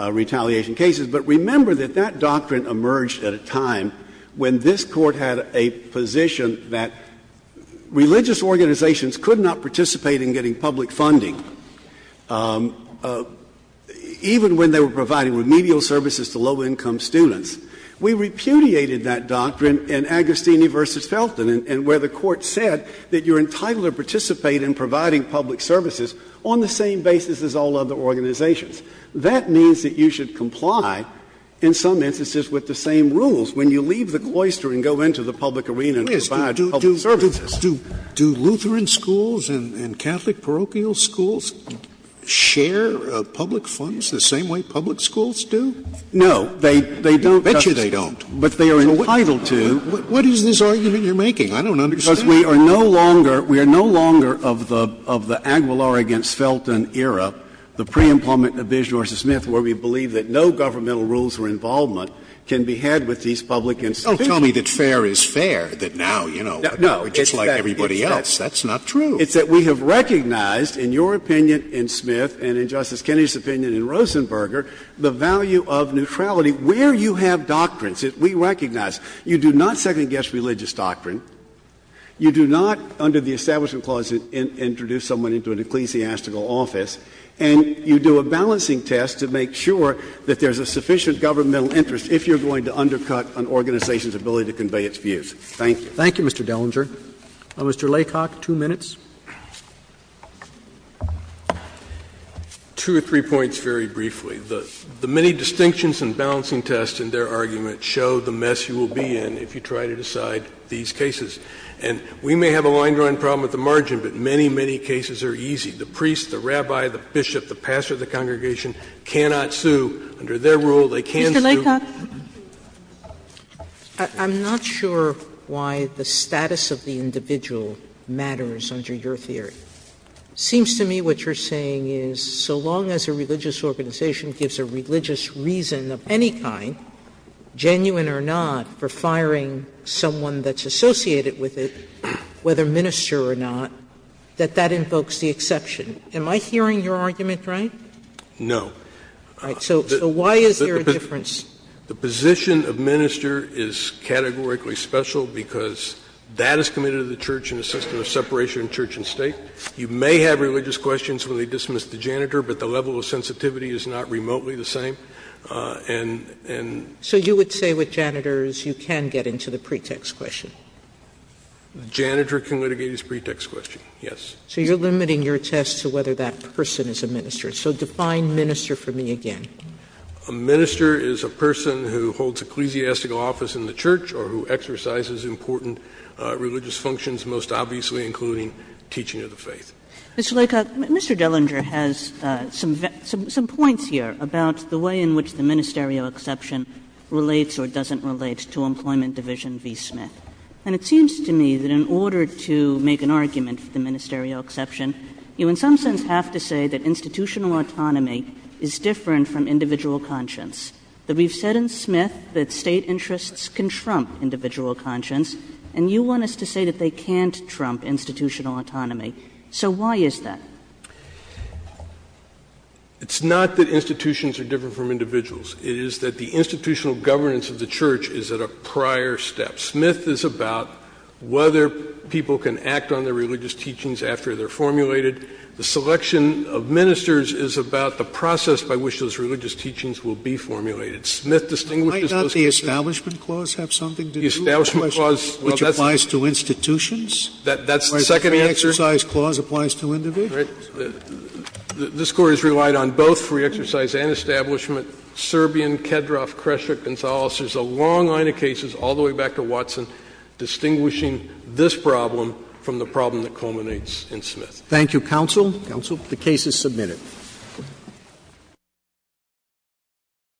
in retaliation cases, but remember that that doctrine emerged at a time when this Court had a position that religious organizations could not participate in getting public funding, even when they were providing remedial services to low-income students. We repudiated that doctrine in Agostini v. Felton, and where the Court said that you are entitled to participate in providing public services on the same basis as all other religious organizations, that means that you should comply, in some instances, with the same rules. When you leave the cloister and go into the public arena and provide public services. Scalia's do Lutheran schools and Catholic parochial schools share public funds the same way public schools do? No. They don't, Justice. I bet you they don't. But they are entitled to. What is this argument you're making? I don't understand. Because we are no longer — we are no longer of the Aguilar v. Felton era, the principle of re-employment in Abish v. Smith, where we believe that no governmental rules for involvement can be had with these public institutions. Don't tell me that fair is fair, that now, you know, we're just like everybody else. That's not true. It's that we have recognized, in your opinion in Smith and in Justice Kennedy's opinion in Rosenberger, the value of neutrality, where you have doctrines. We recognize you do not second-guess religious doctrine. You do not, under the Establishment Clause, introduce someone into an ecclesiastical office, and you do a balancing test to make sure that there's a sufficient governmental interest if you're going to undercut an organization's ability to convey its views. Thank you. Thank you, Mr. Dellinger. Mr. Laycock, two minutes. Two or three points very briefly. The many distinctions and balancing tests in their argument show the mess you will be in if you try to decide these cases. And we may have a line-drawing problem at the margin, but many, many cases are easy. The priest, the rabbi, the bishop, the pastor of the congregation cannot sue. Under their rule, they can sue. Mr. Laycock. I'm not sure why the status of the individual matters under your theory. It seems to me what you're saying is so long as a religious organization gives a religious reason of any kind, genuine or not, for firing someone that's Am I hearing your argument right? No. So why is there a difference? The position of minister is categorically special because that is committed to the church in a system of separation of church and state. You may have religious questions when they dismiss the janitor, but the level of sensitivity is not remotely the same. And so you would say with janitors you can get into the pretext question? The janitor can litigate his pretext question, yes. So you're limiting your test to whether that person is a minister. So define minister for me again. A minister is a person who holds ecclesiastical office in the church or who exercises important religious functions, most obviously including teaching of the faith. Mr. Laycock, Mr. Dellinger has some points here about the way in which the ministerial exception relates or doesn't relate to Employment Division v. Smith. And it seems to me that in order to make an argument for the ministerial exception, you in some sense have to say that institutional autonomy is different from individual conscience, that we've said in Smith that State interests can trump individual conscience, and you want us to say that they can't trump institutional autonomy. So why is that? It's not that institutions are different from individuals. It is that the institutional governance of the church is at a prior step. Smith is about whether people can act on their religious teachings after they're formulated. The selection of ministers is about the process by which those religious teachings will be formulated. Smith distinguishes those cases. Sotomayor, might not the Establishment Clause have something to do with the question which applies to institutions? That's the second answer. Or the Free Exercise Clause applies to individuals. This Court has relied on both Free Exercise and Establishment, Serbian, Kedroff, Kresher, Gonzales, there's a long line of cases all the way back to Watson, distinguishing this problem from the problem that culminates in Smith. Thank you, counsel. Counsel. The case is submitted.